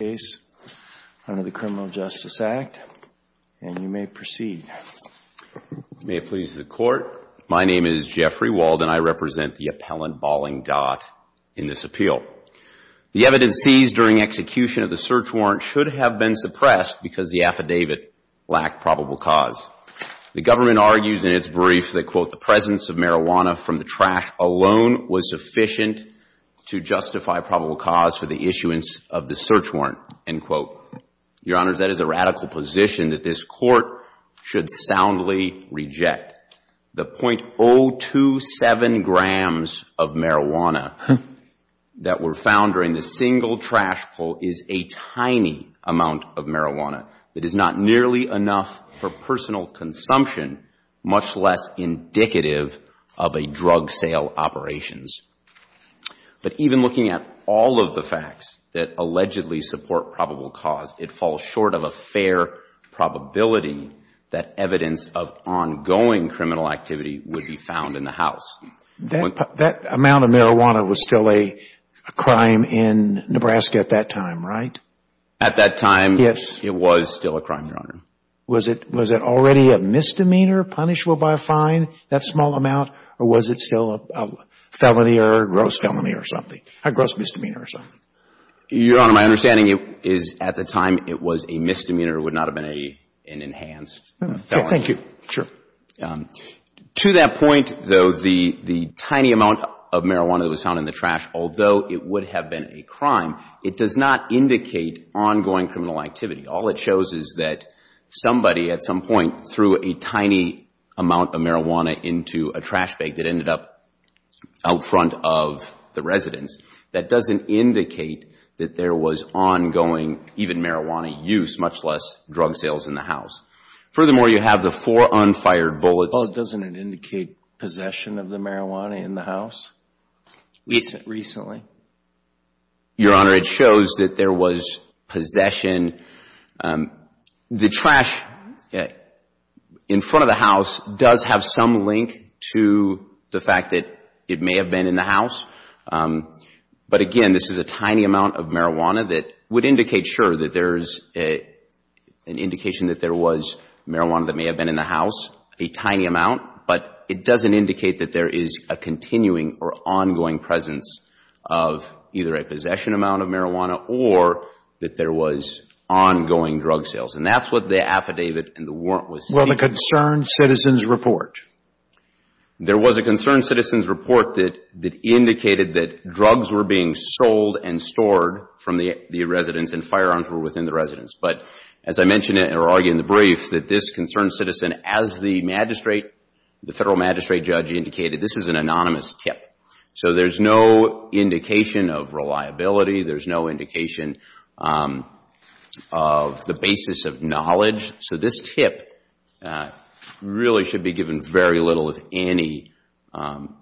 case under the Criminal Justice Act, and you may proceed. May it please the Court, my name is Jeffrey Wald and I represent the appellant Baling Dat in this appeal. The evidence seized during execution of the search warrant should have been suppressed because the affidavit lacked probable cause. The government argues in its brief that, quote, the presence of marijuana from the trash alone was sufficient to justify probable cause for the issuance of the search warrant, end quote. Your Honors, that is a radical position that this Court should soundly reject. The .027 grams of marijuana that were found during the single trash pull is a tiny amount of marijuana that is not nearly enough for personal consumption, much less indicative of a drug sale operations. But even looking at all of the facts that allegedly support probable cause, it falls short of a fair probability that evidence of ongoing criminal activity would be found in the house. That amount of marijuana was still a crime in Nebraska at that time, right? At that time, it was still a crime, Your Honor. Was it already a misdemeanor punishable by a fine, that small amount, or was it still a felony or a gross felony or something, a gross misdemeanor or something? Your Honor, my understanding is at the time it was a misdemeanor. It would not have been an enhanced felony. Thank you. Sure. To that point, though, the tiny amount of marijuana that was found in the trash, although it would have been a crime, it does not indicate ongoing criminal activity. All it shows is that somebody at some point threw a tiny amount of marijuana into a trash bag that ended up out front of the residence. That doesn't indicate that there was ongoing, even marijuana use, much less drug sales in the house. Furthermore, you have the four unfired bullets. Well, doesn't it indicate possession of the marijuana in the house recently? Your Honor, it shows that there was possession. The trash in front of the house does have some link to the fact that it may have been in the house, but again, this is a tiny amount of marijuana that would indicate, sure, that there is an indication that there was marijuana that may have been in the house, a tiny amount, but it doesn't indicate that there is a continuing or ongoing presence of either a possession amount of marijuana or that there was ongoing drug sales. That's what the affidavit and the warrant was stating. Well, the Concerned Citizens Report. There was a Concerned Citizens Report that indicated that drugs were being sold and stored from the residence and firearms were within the residence, but as I mentioned or argued in the brief, that this Concerned Citizen, as the magistrate, the Federal magistrate judge indicated, this is an anonymous tip, so there's no indication of reliability, there's no indication of the basis of knowledge, so this tip really should be given very little of any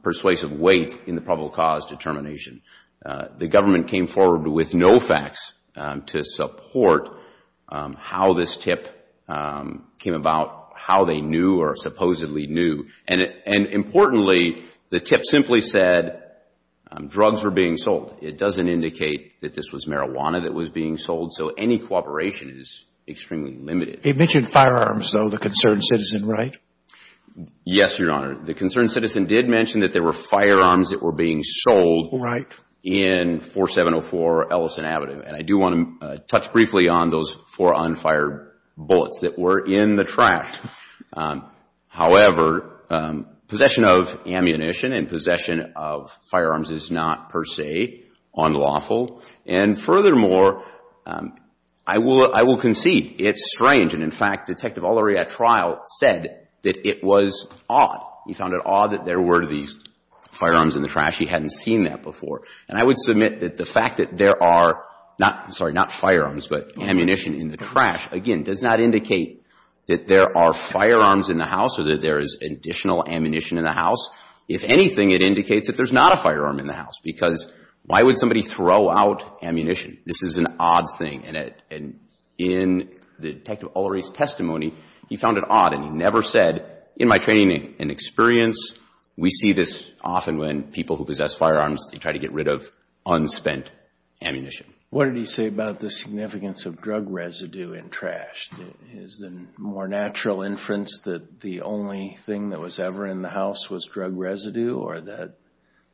persuasive weight in the probable cause determination. The government came forward with no facts to support how this tip came about, how they knew or supposedly knew, and importantly, the tip simply said drugs were being sold. It doesn't indicate that this was marijuana that was being sold, so any cooperation is extremely limited. It mentioned firearms, though, the Concerned Citizen, right? Yes, Your Honor. The Concerned Citizen did mention that there were firearms that were being sold in 4704 Ellison Avenue, and I do want to touch briefly on those four unfired bullets that were in the trash. However, possession of ammunition and possession of firearms is not per se unlawful, and furthermore, I will concede it's strange, and in fact, Detective Olariat trial said that it was odd. He found it odd that there were these firearms in the trash. He hadn't seen that before, and I would submit that the fact that there are not, sorry, not firearms, but ammunition in the trash, again, does not indicate that there are firearms in the house or that there is additional ammunition in the house. If anything, it indicates that there's not a firearm in the house, because why would somebody throw out ammunition? This is an odd thing, and in Detective Olariat's testimony, he found it odd, and he never said, in my training and experience, we see this often when people who possess firearms, they try to get rid of unspent ammunition. What did he say about the significance of drug residue in trash? Is the more natural inference that the only thing that was ever in the house was drug residue, or that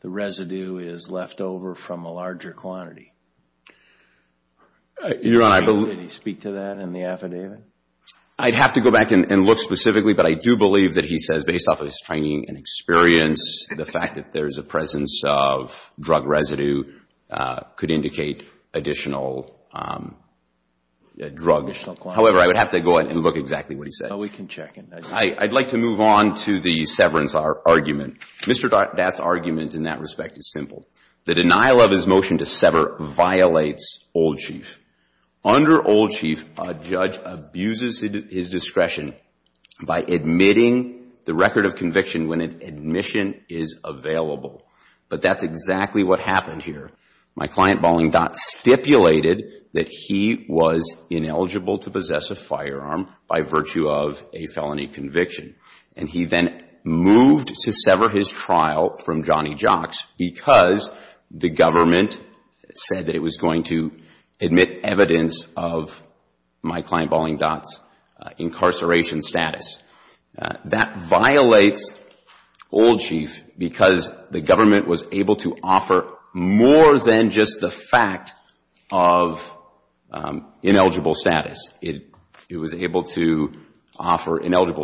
the residue is left over from a larger quantity? Did he speak to that in the affidavit? I'd have to go back and look specifically, but I do believe that he says, based off his training and experience, the fact that there's a presence of drug residue could indicate additional drug. However, I would have to go ahead and look exactly what he said. I'd like to move on to the severance argument. Mr. Dott's argument in that respect is simple. The denial of his motion to sever violates Old Chief. Under Old Chief, a judge abuses his discretion by admitting the record of conviction when an admission is available, but that's exactly what happened here. My client, Bolling Dott, stipulated that he was ineligible to possess a firearm by virtue of a felony conviction. He then moved to sever his trial from Johnny Jocks because the government said that it was going to admit evidence of my client, Bolling Dott's incarceration status. That violates Old Chief because the it was able to offer ineligible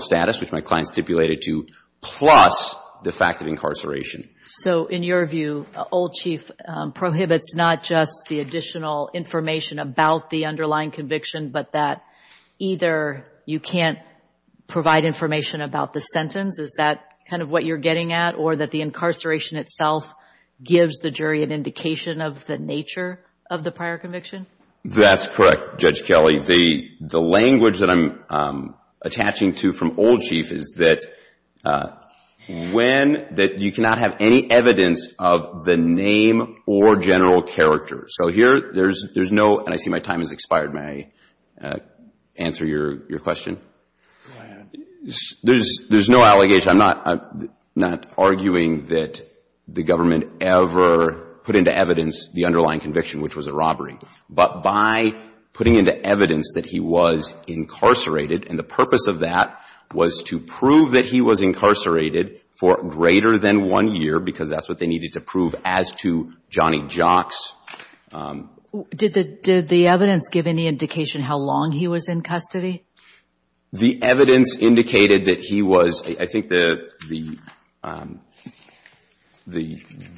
status, which my client stipulated to, plus the fact of So in your view, Old Chief prohibits not just the additional information about the underlying conviction, but that either you can't provide information about the sentence, is that kind of what you're getting at, or that the incarceration itself gives the jury an indication of the nature of the prior conviction? That's correct, Judge Kelley. The language that I'm attaching to from Old Chief is that you cannot have any evidence of the name or general character. So here, there's no, and I see my time has expired. May I answer your question? Go ahead. There's no allegation. I'm not arguing that the government ever put into evidence the underlying conviction, which was a robbery, but by putting into evidence that he was incarcerated, and the purpose of that was to prove that he was incarcerated for greater than one year because that's what they needed to prove as to Johnny Jocks. Did the evidence give any indication how long he was in custody? The evidence indicated that he was, I think the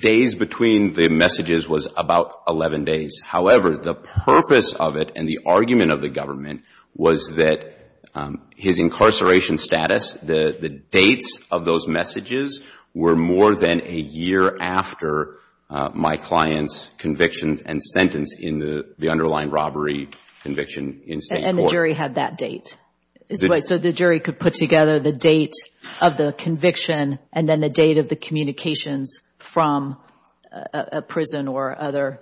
days between the messages was about two to 11 days. However, the purpose of it and the argument of the government was that his incarceration status, the dates of those messages were more than a year after my client's convictions and sentence in the underlying robbery conviction in state court. And the jury had that date. So the jury could put together the date of the conviction and then the date of the communications from a prison or other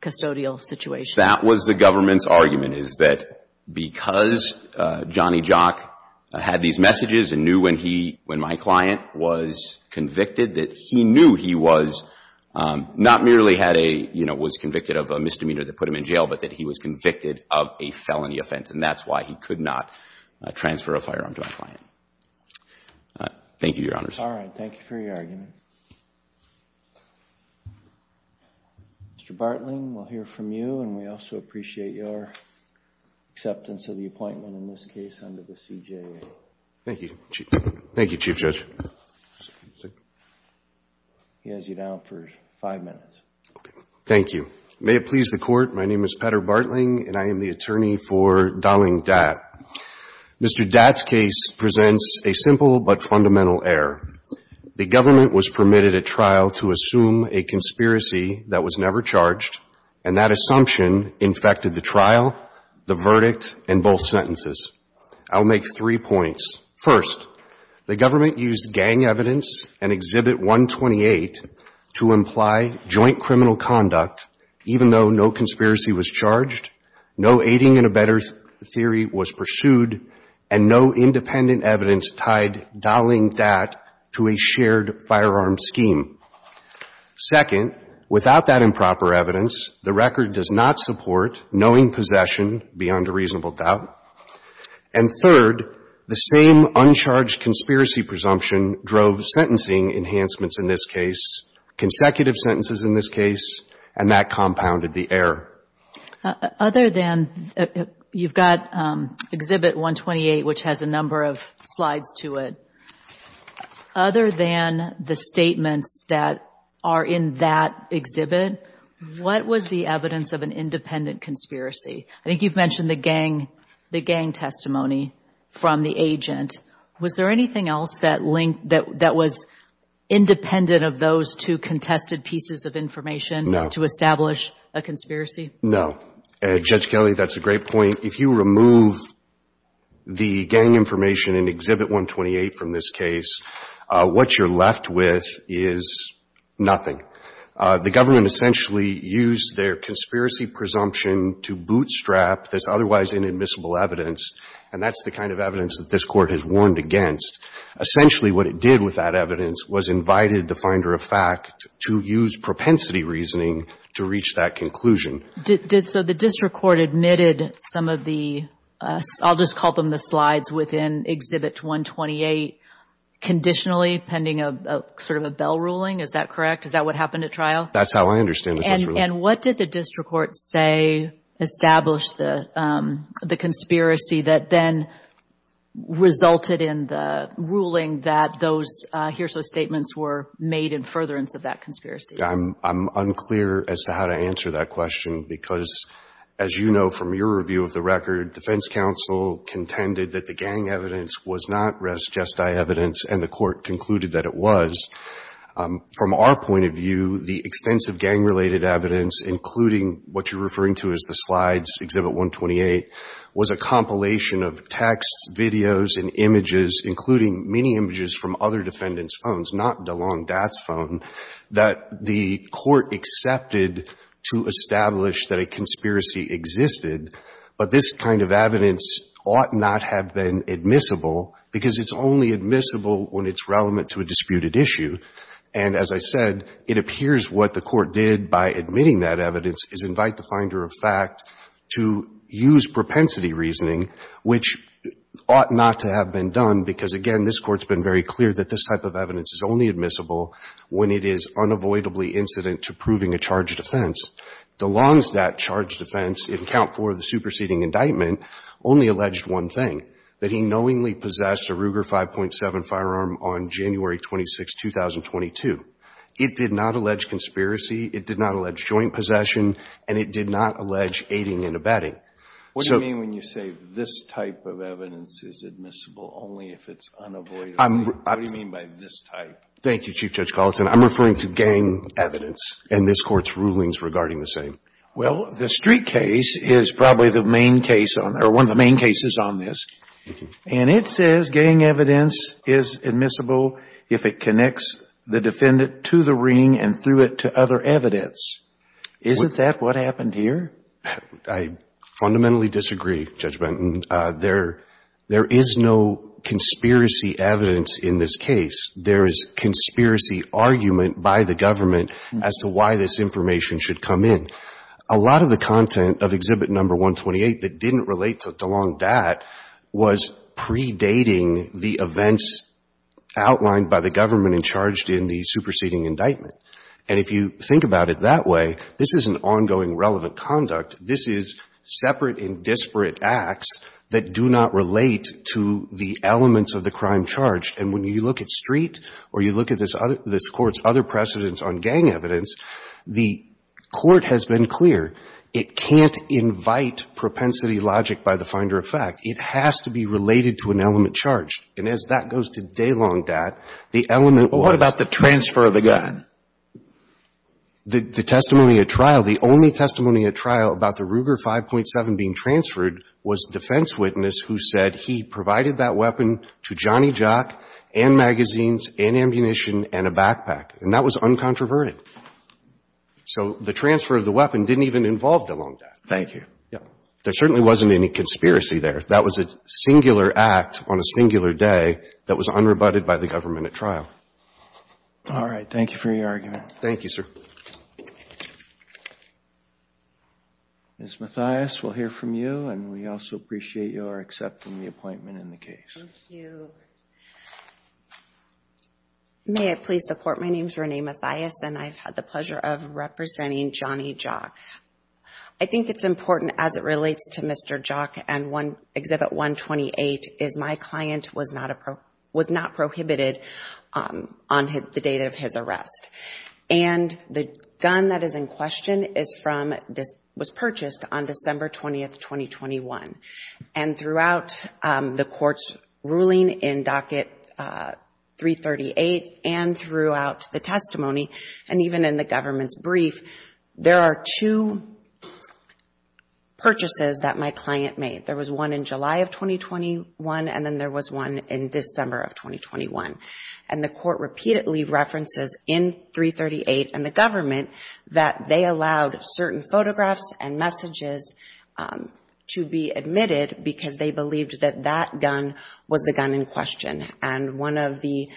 custodial situation. That was the government's argument, is that because Johnny Jock had these messages and knew when he, when my client was convicted, that he knew he was not merely had a, you know, was convicted of a misdemeanor that put him in jail, but that he was convicted of a felony offense. And that's why he could not transfer a firearm to my client. Thank you, Your Honors. All right. Thank you for your argument. Mr. Bartling, we'll hear from you and we also appreciate your acceptance of the appointment in this case under the CJA. Thank you, Chief. Thank you, Chief Judge. He has you down for five minutes. Thank you. May it please the Court, my name is Petter Bartling and I am the attorney for Mr. Datt. Mr. Datt's case presents a simple but fundamental error. The government was permitted at trial to assume a conspiracy that was never charged and that assumption infected the trial, the verdict, and both sentences. I'll make three points. First, the government used gang evidence and Exhibit 128 to imply joint criminal conduct even though no conspiracy was charged, no aiding and abetting theory was pursued, and no independent evidence tied Datt to a shared firearm scheme. Second, without that improper evidence, the record does not support knowing possession beyond a reasonable doubt. And third, the same uncharged conspiracy presumption drove sentencing enhancements in this case, consecutive sentences in this case, and that compounded the error. Other than, you've got Exhibit 128 which has a number of slides to it. Other than the statements that are in that exhibit, what was the evidence of an independent conspiracy? I think you've mentioned the gang testimony from the agent. Was there anything else that was independent of those two contested pieces of information to establish a conspiracy? No. Judge Kelley, that's a great point. If you remove the gang information in Exhibit 128 from this case, what you're left with is nothing. The government essentially used their conspiracy presumption to bootstrap this otherwise inadmissible evidence, and that's the kind of evidence that this Court has warned against. Essentially, what it did with that evidence was invited the finder of fact to use propensity reasoning to reach that conclusion. Did so the district court admitted some of the, I'll just call them the slides within Exhibit 128, conditionally pending a sort of a bell ruling, is that correct? Is that what happened at trial? That's how I understand it. And what did the district court say established the conspiracy that then resulted in the ruling that those hearsay statements were made in furtherance of that conspiracy? I'm unclear as to how to answer that question because, as you know from your review of the record, defense counsel contended that the gang evidence was not res gestae evidence and the Court concluded that it was. From our point of view, the extensive gang-related evidence, including what you're referring to as the slides, Exhibit 128, was a compilation of texts, videos, and images, including many images from other defendants' phones, not DeLong-Dat's phone, that the Court accepted to establish that a conspiracy existed, but this kind of evidence ought not have been admissible because it's only admissible when it's relevant to a disputed issue. And as I said, it appears what the Court did by admitting that evidence is invite the finder of fact to use propensity reasoning, which ought not to have been done because, again, this Court's been very clear that this type of evidence is only admissible when it is unavoidably incident to proving a charge of defense. DeLong-Dat's charge of defense in account for the superseding indictment only alleged one thing, that he knowingly possessed a Ruger 5.7 firearm on January 26, 2022. It did not allege conspiracy. It did not allege joint possession. And it did not allege aiding and abetting. So you mean when you say this type of evidence is admissible only if it's unavoidable? What do you mean by this type? Thank you, Chief Judge Gallatin. I'm referring to gang evidence and this Court's rulings regarding the same. Well, the Street case is probably the main case on or one of the main cases on this. And it says gang evidence is admissible if it connects the defendant to the ring and threw it to other evidence. Isn't that what happened here? I fundamentally disagree, Judge Benton. There is no conspiracy evidence in this case. There is conspiracy argument by the government as to why this information should come in. A lot of the content of Exhibit No. 128 that didn't relate to DeLong Dat was predating the events outlined by the government and charged in the superseding indictment. And if you think about it that way, this is an ongoing relevant conduct. This is separate and disparate acts that do not relate to the elements of the crime charged. And when you look at Street or you look at this Court's other precedents on gang evidence, the Court has been clear it can't invite propensity logic by the finder of fact. It has to be related to an element charged. And as that goes to DeLong Dat, the element was the transfer of the gun. The testimony at trial, the only testimony at trial about the Ruger 5.7 being transferred was defense witness who said he provided that weapon to Johnny Jock and magazines and ammunition and a backpack. And that was uncontroverted. So the transfer of the weapon didn't even involve DeLong Dat. Thank you. Yeah. There certainly wasn't any conspiracy there. That was a singular act on a singular day that was unrebutted by the government at trial. All right. Thank you for your argument. Thank you, sir. Ms. Mathias, we'll hear from you. And we also appreciate your accepting the appointment in the case. Thank you. May it please the Court, my name is Renee Mathias, and I've had the pleasure of representing Johnny Jock. I think it's important as it relates to Mr. Jock and Exhibit 128 is my client was not prohibited on the date of his arrest. And the gun that is in question was purchased on December 20, 2021. And throughout the court's ruling in docket 338 and throughout the testimony, and even in the government's brief, there are two purchases that my client made. There was one in July of 2021, and then there was one in December of 2021. And the court repeatedly references in 338 and the government that they allowed certain photographs and messages to be admitted because they believed that that gun was the gun in question. And one of the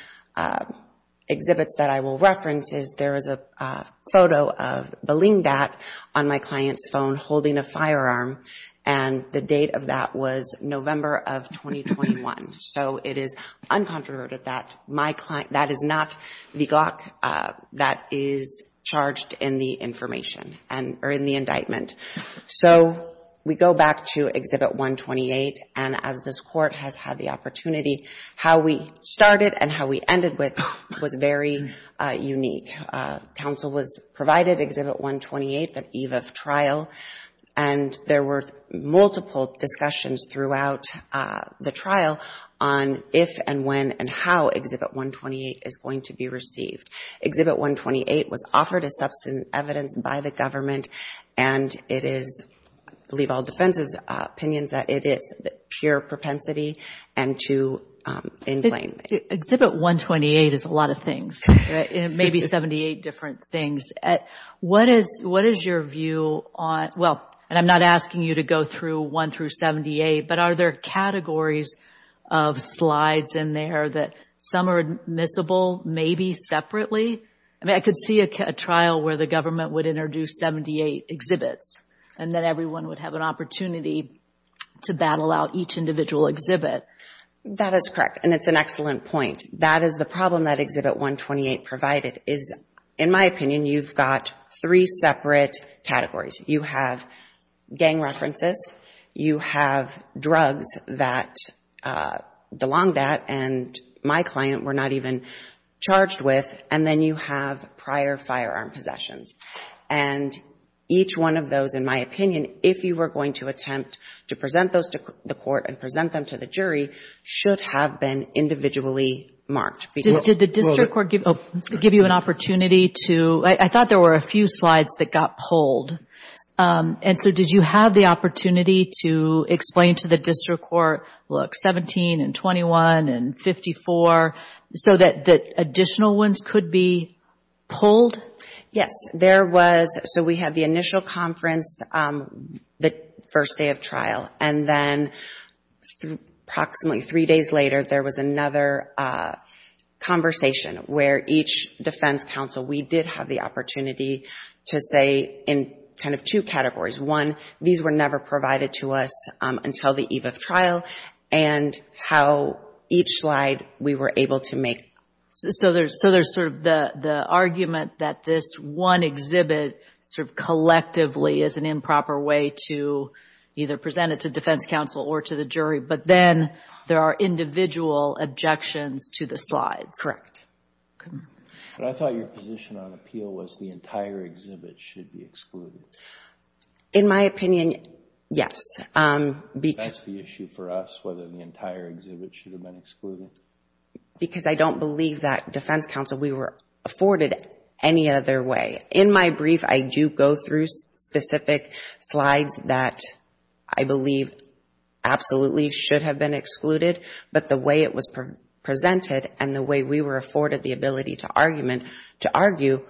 exhibits that I will reference is there is a photo of Baleen Dat on my client's phone holding a firearm. And the date of that was November of 2021. So it is uncontroverted that my client, that is not the Gawk that is charged in the information or in the indictment. So we go back to Exhibit 128 and as this court has had the opportunity, how we started and how we ended with was very unique. Counsel was provided Exhibit 128 that eve of trial, and there were multiple discussions throughout the trial on if and when and how Exhibit 128 is going to be received. Exhibit 128 was offered as substantive evidence by the government, and it is, I believe all defense's opinion, that it is pure propensity and to incline. Exhibit 128 is a lot of things, maybe 78 different things. What is your view on, well, and I'm not asking you to go through one through 78, but are there categories of slides in there that some are admissible, maybe separately? I mean, I could see a trial where the government would introduce 78 exhibits and then everyone would have an opportunity to battle out each individual exhibit. That is correct, and it's an excellent point. That is the problem that Exhibit 128 provided is, in my opinion, you've got three separate categories. You have gang references, you have drugs that belong that and my client were not even charged with, and then you have prior firearm possessions. And each one of those, in my opinion, if you were going to attempt to present those to the court and present them to the jury, should have been individually marked. Did the district court give you an opportunity to, I thought there were a few slides that got pulled, and so did you have the opportunity to explain to the district court, look, 17 and 21 and 54, so that additional ones could be pulled? Yes, there was. So we had the initial conference, the first day of trial, and then approximately three days later, there was another conversation where each defense counsel, we did have the opportunity to say in kind of two categories. One, these were never provided to us until the eve of trial, and how each slide we were able to make. So there's sort of the argument that this one exhibit sort of collectively is an improper way to either present it to defense counsel or to the jury, but then there are individual objections to the slides. Correct. But I thought your position on appeal was the entire exhibit should be excluded. In my opinion, yes. That's the issue for us, whether the entire exhibit should have been excluded? Because I don't believe that defense counsel, we were afforded any other way. In my brief, I do go through specific slides that I believe absolutely should have been excluded, but the way it was presented and the way we were afforded the ability to argue,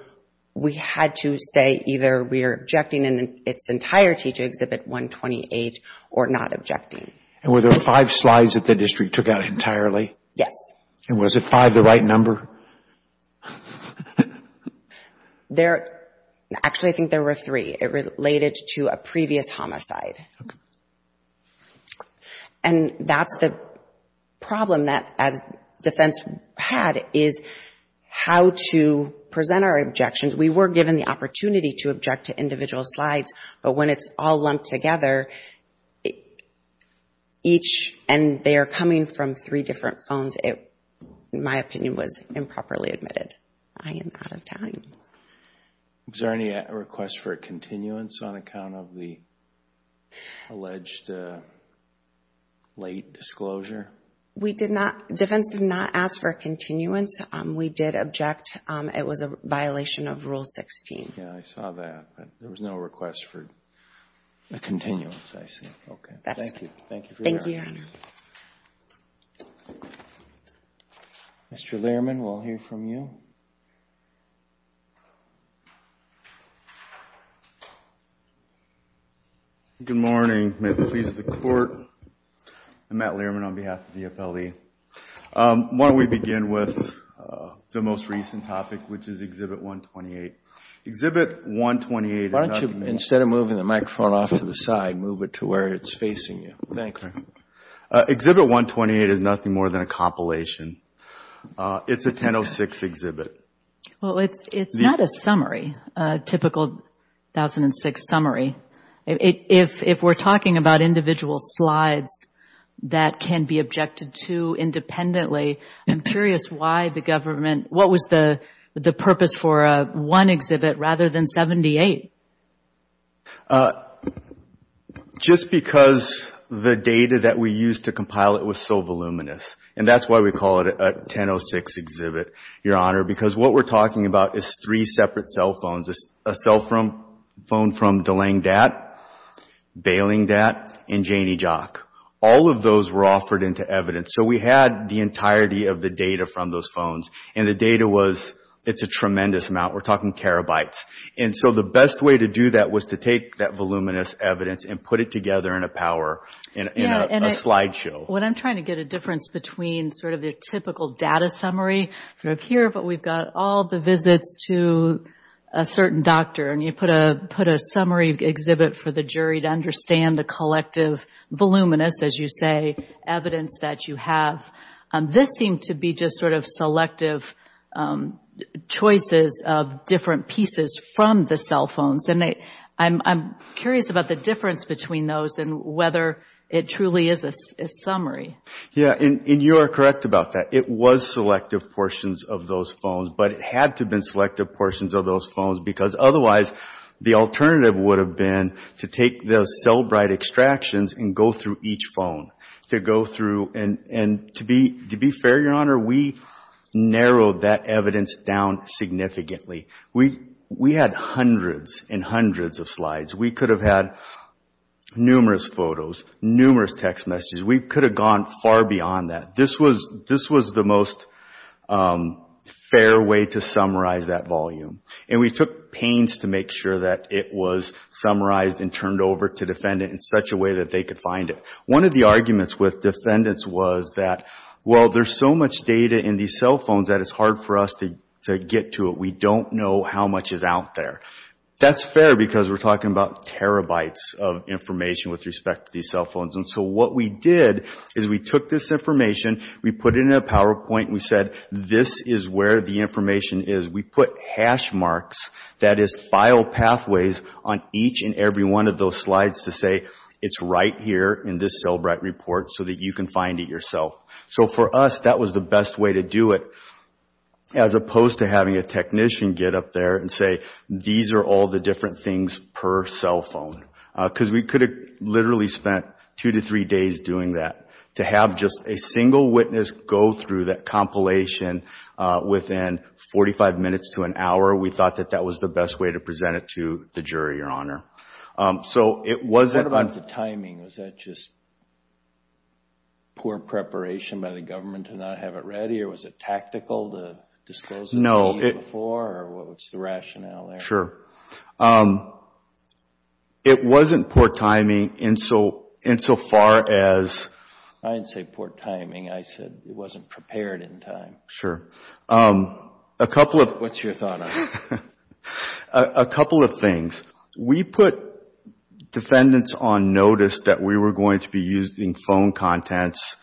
we had to say either we are objecting in its entirety to exhibit 128 or not objecting. And were there five slides that the district took out entirely? Yes. And was it five the right number? There, actually I think there were three. It related to a previous homicide. Okay. And that's the problem that defense had is how to present our objections. We were given the opportunity to object to individual slides, but when it's all lumped together, each and they are coming from three different phones, my opinion was improperly I am out of time. Was there any request for a continuance on account of the alleged late disclosure? We did not. Defense did not ask for a continuance. We did object. It was a violation of Rule 16. Yeah, I saw that, but there was no request for a continuance, I see. Okay, thank you. Thank you. Mr. Lehrman, we'll hear from you. Okay. Good morning. May it please the Court. I'm Matt Lehrman on behalf of the FLE. Why don't we begin with the most recent topic, which is Exhibit 128. Exhibit 128. Why don't you, instead of moving the microphone off to the side, move it to where it's facing you. Thank you. Exhibit 128 is nothing more than a compilation. It's a 1006 exhibit. Well, it's not a summary, a typical 1006 summary. If we're talking about individual slides that can be objected to independently, I'm curious why the government, what was the purpose for one exhibit rather than 78? Just because the data that we used to compile it was so voluminous, and that's why we call it a 1006 exhibit, Your Honor, because what we're talking about is three separate cell phones, a cell phone from DeLang Dat, Bailing Dat, and Janie Jock. All of those were offered into evidence. So we had the entirety of the data from those phones, and the data was, it's a tremendous amount. We're talking terabytes. And so the best way to do that was to take that voluminous evidence and put it together in a power, in a slideshow. What I'm trying to get a difference between sort of the typical data summary, sort of here, but we've got all the visits to a certain doctor. And you put a summary exhibit for the jury to understand the collective voluminous, as you say, evidence that you have. This seemed to be just sort of selective choices of different pieces from the cell phones. I'm curious about the difference between those and whether it truly is a summary. Yeah, and you are correct about that. It was selective portions of those phones, but it had to have been selective portions of those phones, because otherwise the alternative would have been to take those cellbrite extractions and go through each phone, to go through. And to be fair, Your Honor, we narrowed that evidence down significantly. We had hundreds and hundreds of slides. We could have had numerous photos, numerous text messages. We could have gone far beyond that. This was the most fair way to summarize that volume. And we took pains to make sure that it was summarized and turned over to defendant in such a way that they could find it. One of the arguments with defendants was that, well, there's so much data in these cell phones that it's hard for us to get to it. We don't know how much is out there. That's fair, because we're talking about terabytes of information with respect to these cell phones. And so what we did is we took this information, we put it in a PowerPoint, and we said, this is where the information is. We put hash marks, that is file pathways, on each and every one of those slides to say, it's right here in this cellbrite report so that you can find it yourself. So for us, that was the best way to do it, as opposed to having a technician get up there and say, these are all the different things per cell phone. Because we could have literally spent two to three days doing that. To have just a single witness go through that compilation within 45 minutes to an hour, we thought that that was the best way to present it to the jury, Your Honor. So it wasn't... What about the timing? Was that just poor preparation by the government to not have it ready? Or was it tactical to disclose it to me before? Or what was the rationale there? Sure. It wasn't poor timing insofar as... I didn't say poor timing. I said it wasn't prepared in time. Sure. A couple of... What's your thought on that? A couple of things. We put defendants on notice that we were going to be using phone contents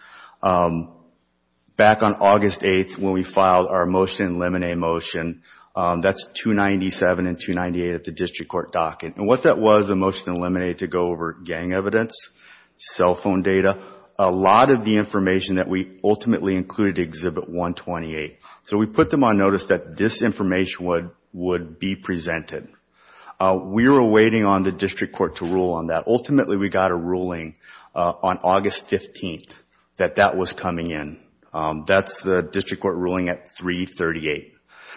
back on August 8th when we filed our Motion to Eliminate motion. That's 297 and 298 at the district court docket. And what that was, the Motion to Eliminate, to go over gang evidence, cell phone data, a lot of the information that we ultimately included in Exhibit 128. So we put them on notice that this information would be presented. We were waiting on the district court to rule on that. Ultimately, we got a ruling on August 15th that that was coming in. That's the district court ruling at 338.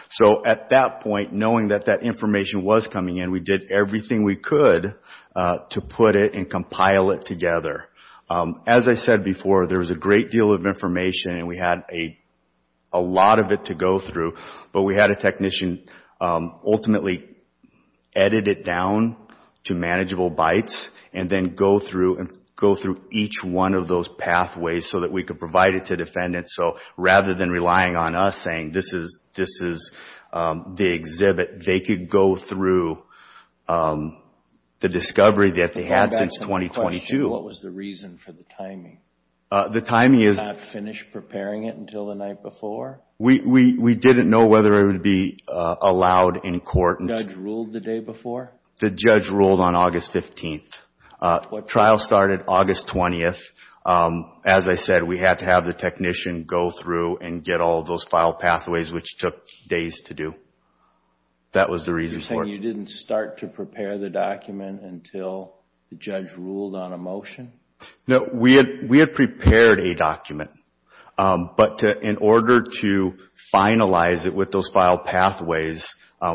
So at that point, knowing that that information was coming in, we did everything we could to put it and compile it together. As I said before, there was a great deal of information, and we had a lot of it to go through. But we had a technician ultimately edit it down to manageable bytes and then go through each one of those pathways so that we could provide it to defendants. So rather than relying on us saying, this is the exhibit, they could go through the discovery that they had since 2022. What was the reason for the timing? The timing is... Not finish preparing it until the night before? We didn't know whether it would be allowed in court. The judge ruled the day before? The judge ruled on August 15th. Trial started August 20th. As I said, we had to have the technician go through and get all of those file pathways, which took days to do. That was the reason for it. You didn't start to prepare the document until the judge ruled on a motion? No, we had prepared a document. But in order to finalize it with those file pathways,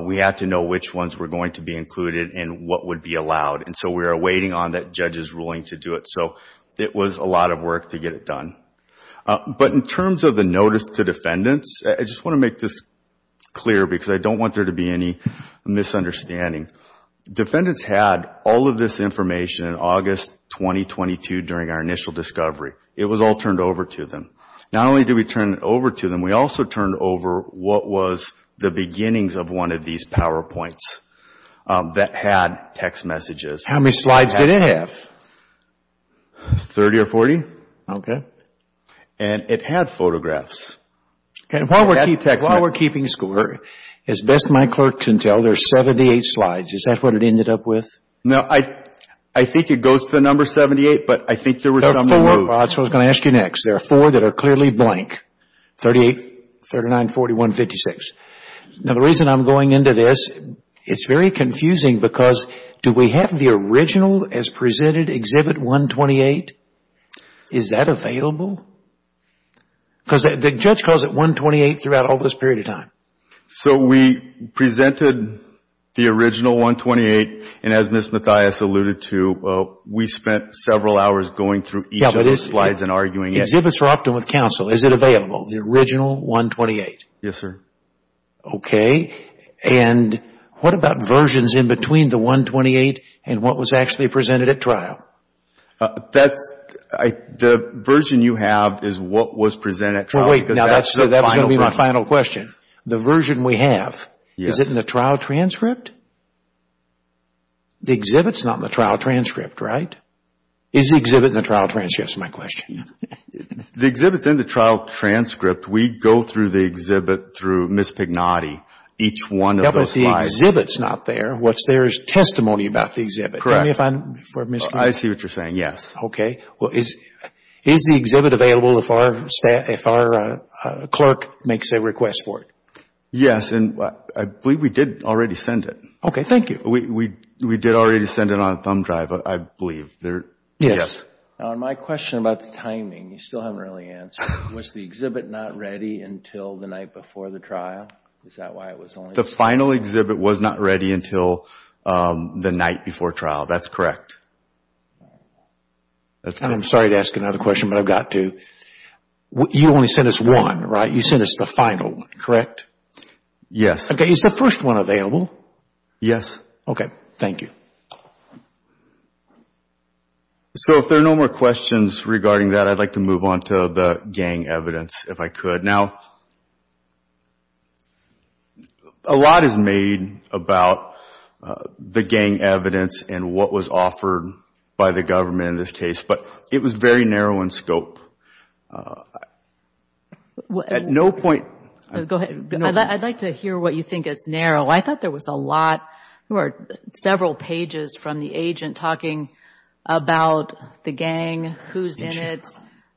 we had to know which ones were going to be included and what would be allowed. And so we were waiting on that judge's ruling to do it. So it was a lot of work to get it done. But in terms of the notice to defendants, I just want to make this clear because I don't want there to be any misunderstanding. Defendants had all of this information in August 2022 during our initial discovery. It was all turned over to them. Not only did we turn it over to them, we also turned over what was the beginnings of one of these PowerPoints that had text messages. How many slides did it have? 30 or 40. Okay. And it had photographs. And while we're keeping score, as best my clerk can tell, there's 78 slides. Is that what it ended up with? No, I think it goes to the number 78. But I think there were some that moved. That's what I was going to ask you next. There are four that are clearly blank. 38, 39, 40, 156. Now, the reason I'm going into this, it's very confusing because do we have the original as presented, Exhibit 128? Is that available? Because the judge calls it 128 throughout all this period of time. So we presented the original 128. And as Ms. Mathias alluded to, we spent several hours going through each of the slides and arguing it. Exhibits are often with counsel. Is it available, the original 128? Yes, sir. Okay. And what about versions in between the 128 and what was actually presented at trial? The version you have is what was presented at trial. Wait, now that's going to be my final question. The version we have, is it in the trial transcript? The exhibit's not in the trial transcript, right? Is the exhibit in the trial transcript, is my question. The exhibit's in the trial transcript. We go through the exhibit through Ms. Pignotti, each one of those slides. Yeah, but the exhibit's not there. What's there is testimony about the exhibit. Correct. I see what you're saying, yes. Okay. Is the exhibit available if our clerk makes a request for it? Yes, and I believe we did already send it. Okay, thank you. We did already send it on a thumb drive, I believe. Yes. Now, my question about the timing, you still haven't really answered. Was the exhibit not ready until the night before the trial? Is that why it was only... The final exhibit was not ready until the night before trial. That's correct. I'm sorry to ask another question, but I've got to. You only sent us one, right? You sent us the final one, correct? Yes. Is the first one available? Yes. Okay, thank you. So if there are no more questions regarding that, I'd like to move on to the gang evidence, if I could. Now, a lot is made about the gang evidence and what was offered by the government in this case, but it was very narrow in scope. At no point... Go ahead. I'd like to hear what you think is narrow. I thought there was a lot. There were several pages from the agent talking about the gang, who's in it,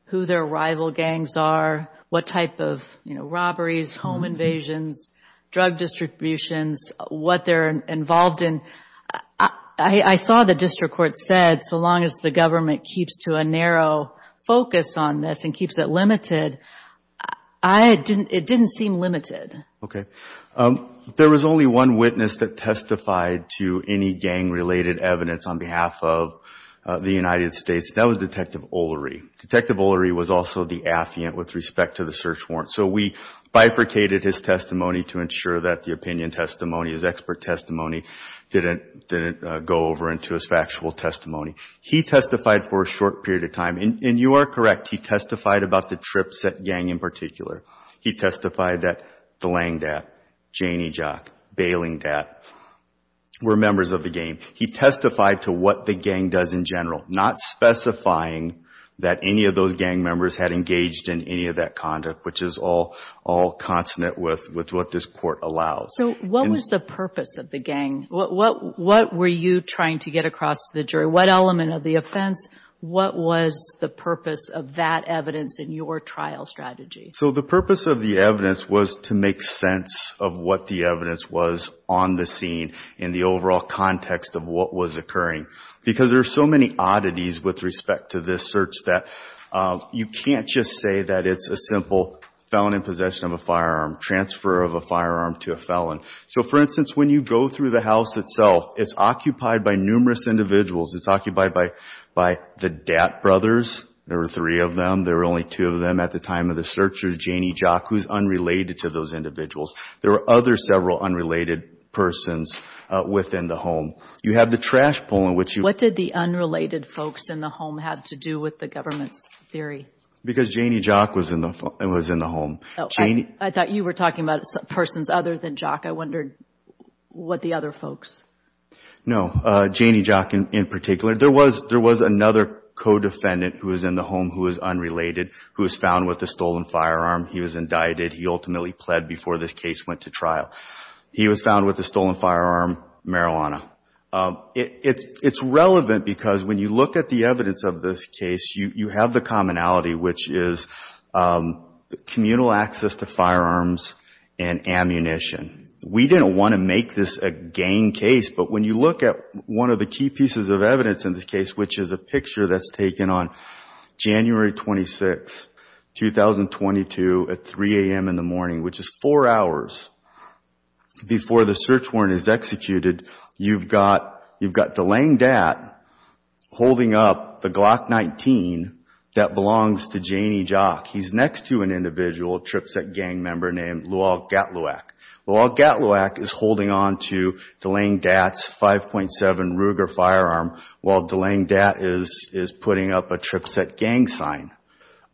who their rival gangs are, what type of robberies, home invasions, drug distributions, what they're involved in. I saw the district court said, so long as the government keeps to a narrow focus on this and keeps it limited, it didn't seem limited. There was only one witness that testified to any gang-related evidence on behalf of the United States. That was Detective O'Leary. Detective O'Leary was also the affiant with respect to the search warrant, so we bifurcated his testimony to ensure that the opinion testimony, his expert testimony, didn't go over into his factual testimony. He testified for a short period of time, and you are correct, he testified about the trips that gang in particular. He testified that the Langdat, Janey Jack, Bailingdat were members of the gang. He testified to what the gang does in general, not specifying that any of those gang members had engaged in any of that conduct, which is all consonant with what this court allows. So what was the purpose of the gang? What were you trying to get across to the jury? What element of the offense? What was the purpose of that evidence in your trial strategy? So the purpose of the evidence was to make sense of what the evidence was on the scene in the overall context of what was occurring, because there are so many oddities with respect to this search that you can't just say that it's a simple felon in possession of a firearm, transfer of a firearm to a felon. So for instance, when you go through the house itself, it's occupied by numerous individuals. It's occupied by the Dat brothers. There were three of them. There were only two of them at the time of the search was Janie Jock, who's unrelated to those individuals. There were other several unrelated persons within the home. You have the trash poll in which you- What did the unrelated folks in the home have to do with the government's theory? Because Janie Jock was in the home. I thought you were talking about persons other than Jock. I wondered what the other folks. No, Janie Jock in particular. There was another co-defendant who was in the home who was unrelated, who was found with a stolen firearm. He was indicted. He ultimately pled before this case went to trial. He was found with a stolen firearm, marijuana. It's relevant because when you look at the evidence of this case, you have the commonality, which is communal access to firearms and ammunition. We didn't want to make this a gang case, but when you look at one of the key pieces of evidence in this case, which is a picture that's taken on January 26, 2022, at 3 a.m. in the morning, which is four hours before the search warrant is executed, you've got Delaine Dat holding up the Glock 19 that belongs to Janie Jock. He's next to an individual, a Tripset gang member, named Luol Gatluwak. Luol Gatluwak is holding on to Delaine Dat's 5.7 Ruger firearm while Delaine Dat is putting up a Tripset gang sign.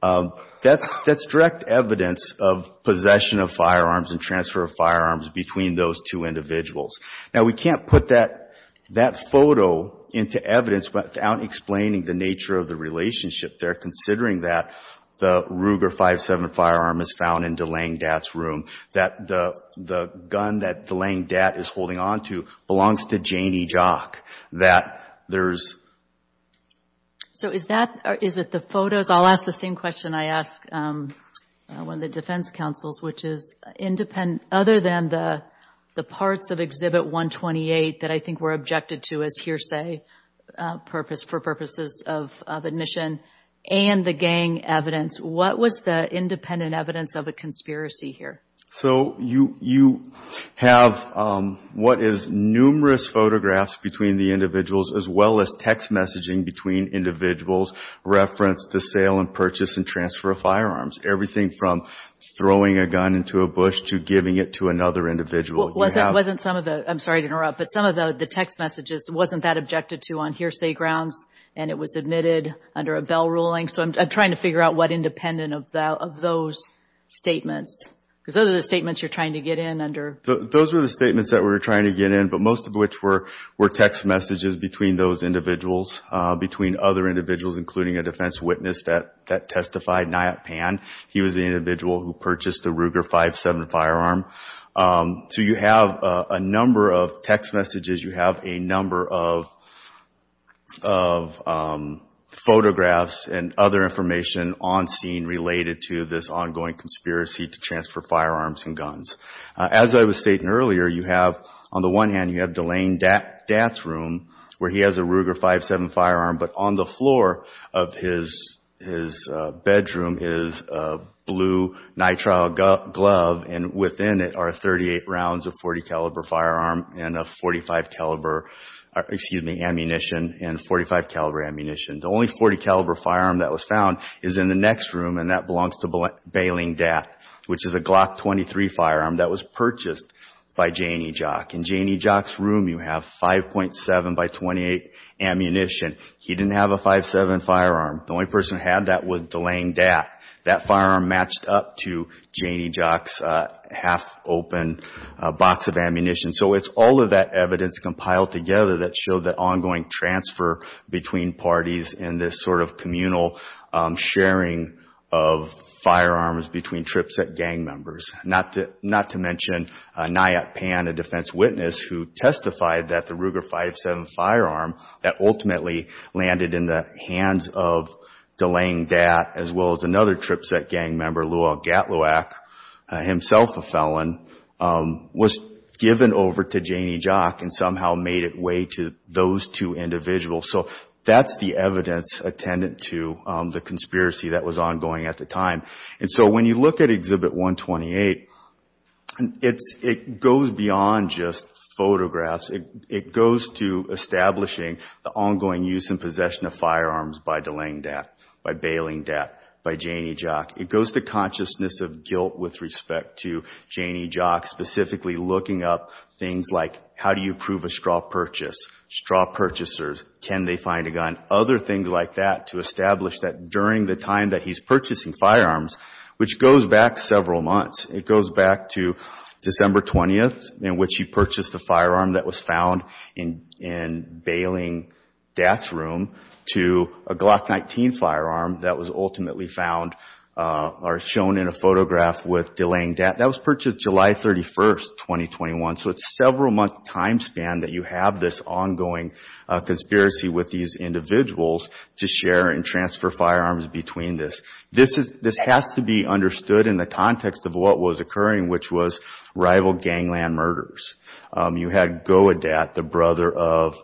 That's direct evidence of possession of firearms and transfer of firearms between those two individuals. Now, we can't put that photo into evidence without explaining the nature of the relationship there, considering that the Ruger 5.7 firearm is found in Delaine Dat's room, that the gun that Delaine Dat is holding on to belongs to Janie Jock, that there's... So, is that... Is it the photos? I'll ask the same question I asked one of the defense counsels, which is, other than the parts of Exhibit 128 that I think were objected to as hearsay for purposes of admission and the gang evidence, what was the independent evidence of a conspiracy here? So, you have what is numerous photographs between the individuals, as well as text messaging between individuals referenced the sale and purchase and transfer of firearms. Everything from throwing a gun into a bush to giving it to another individual. Well, wasn't some of the... I'm sorry to interrupt, but some of the text messages wasn't that objected to on hearsay grounds and it was admitted under a bell ruling. So, I'm trying to figure out what independent of those statements, because those are the statements you're trying to get in under... So, those were the statements that we were trying to get in, but most of which were text messages between those individuals, between other individuals, including a defense witness that testified, Nayat Pan. He was the individual who purchased the Ruger 5.7 firearm. So, you have a number of text messages. You have a number of photographs and other information on scene related to this ongoing conspiracy to transfer firearms and guns. As I was stating earlier, you have, on the one hand, you have Delane Dat's room where he has a Ruger 5.7 firearm, but on the floor of his bedroom is a blue nitrile glove and within it are 38 rounds of .40 caliber firearm and a .45 caliber, excuse me, ammunition and .45 caliber ammunition. The only .40 caliber firearm that was found is in the next room and that belongs to Beling Dat, which is a Glock 23 firearm that was purchased by Janie Jock. In Janie Jock's room, you have 5.7 by 28 ammunition. He didn't have a 5.7 firearm. The only person who had that was Delane Dat. That firearm matched up to Janie Jock's half-open box of ammunition. So, it's all of that evidence compiled together that showed the ongoing transfer between parties in this sort of communal sharing of firearms between TRIPSET gang members, not to mention Nyat Pan, a defense witness, who testified that the Ruger 5.7 firearm that ultimately landed in the hands of Delane Dat as well as another TRIPSET gang member, Luol Gatluwak, himself a felon, was given over to Janie Jock and somehow made its way to those two individuals. So, that's the evidence attendant to the conspiracy that was ongoing at the time. And so, when you look at Exhibit 128, it goes beyond just photographs. It goes to establishing the ongoing use and possession of firearms by Delane Dat, by Bayling Dat, by Janie Jock. It goes to consciousness of guilt with respect to Janie Jock, specifically looking up things like how do you prove a straw purchase? Straw purchasers, can they find a gun? Other things like that to establish that during the time that he's purchasing firearms, which goes back several months. It goes back to December 20th in which he purchased the firearm that was found in Bayling Dat's room to a Glock 19 firearm that was ultimately found or shown in a photograph with Delane Dat. That was purchased July 31st, 2021. So, it's a several month time span that you have this ongoing conspiracy with these individuals to share and transfer firearms between this. This has to be understood in the context of what was occurring, which was rival gangland murders. You had Goa Dat, the brother of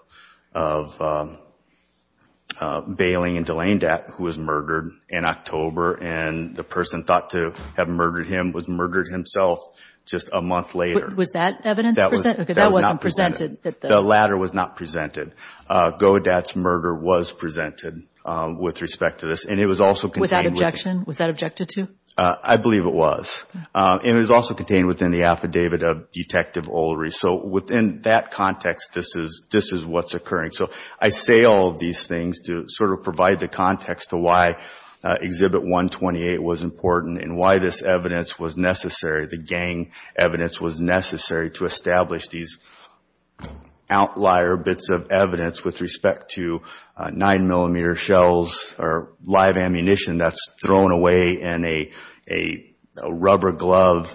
Bayling and Delane Dat who was murdered in October. And the person thought to have murdered him was murdered himself just a month later. Was that evidence presented? That wasn't presented. The latter was not presented. Goa Dat's murder was presented with respect to this. And it was also contained- Without objection? Was that objected to? I believe it was. And it was also contained within the affidavit of Detective Olry. So, within that context, this is what's occurring. So, I say all of these things to sort of provide the context to why Exhibit 128 was important and why this evidence was necessary, the gang evidence was necessary to establish these outlier bits of evidence with respect to nine millimeter shells or live ammunition that's thrown away in a rubber glove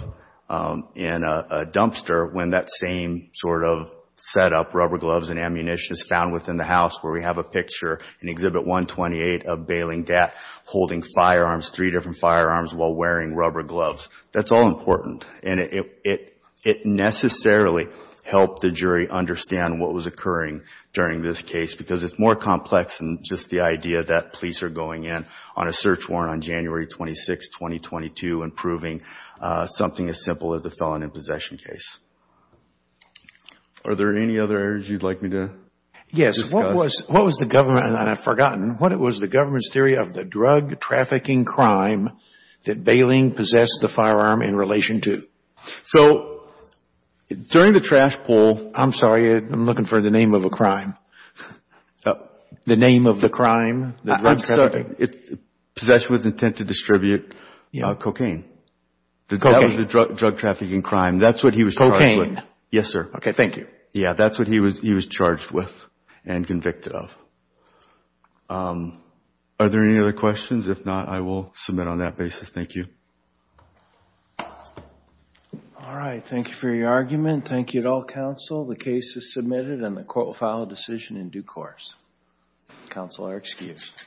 in a dumpster when that same sort of setup, rubber gloves and ammunition is found within the house where we have a picture in Exhibit 128 of Bayling Dat holding firearms, three different firearms while wearing rubber gloves. That's all important. And it necessarily helped the jury understand what was occurring during this case because it's more complex than just the idea that police are going in on a search warrant on January 26, 2022 and proving something as simple as a felon in possession case. Are there any other areas you'd like me to discuss? Yes, what was the government, and I've forgotten, what was the government's theory of the drug trafficking crime that Bayling possessed the firearm in relation to? So during the trash pull, I'm sorry, I'm looking for the name of a crime, the name of the crime. Possessed with intent to distribute cocaine. That was the drug trafficking crime. That's what he was charged with. Yes, sir. Okay, thank you. Yeah, that's what he was charged with and convicted of. Are there any other questions? If not, I will submit on that basis. Thank you. All right. Thank you for your argument. Thank you at all, counsel. The case is submitted and the court will file a decision in due course. Counsel are excused.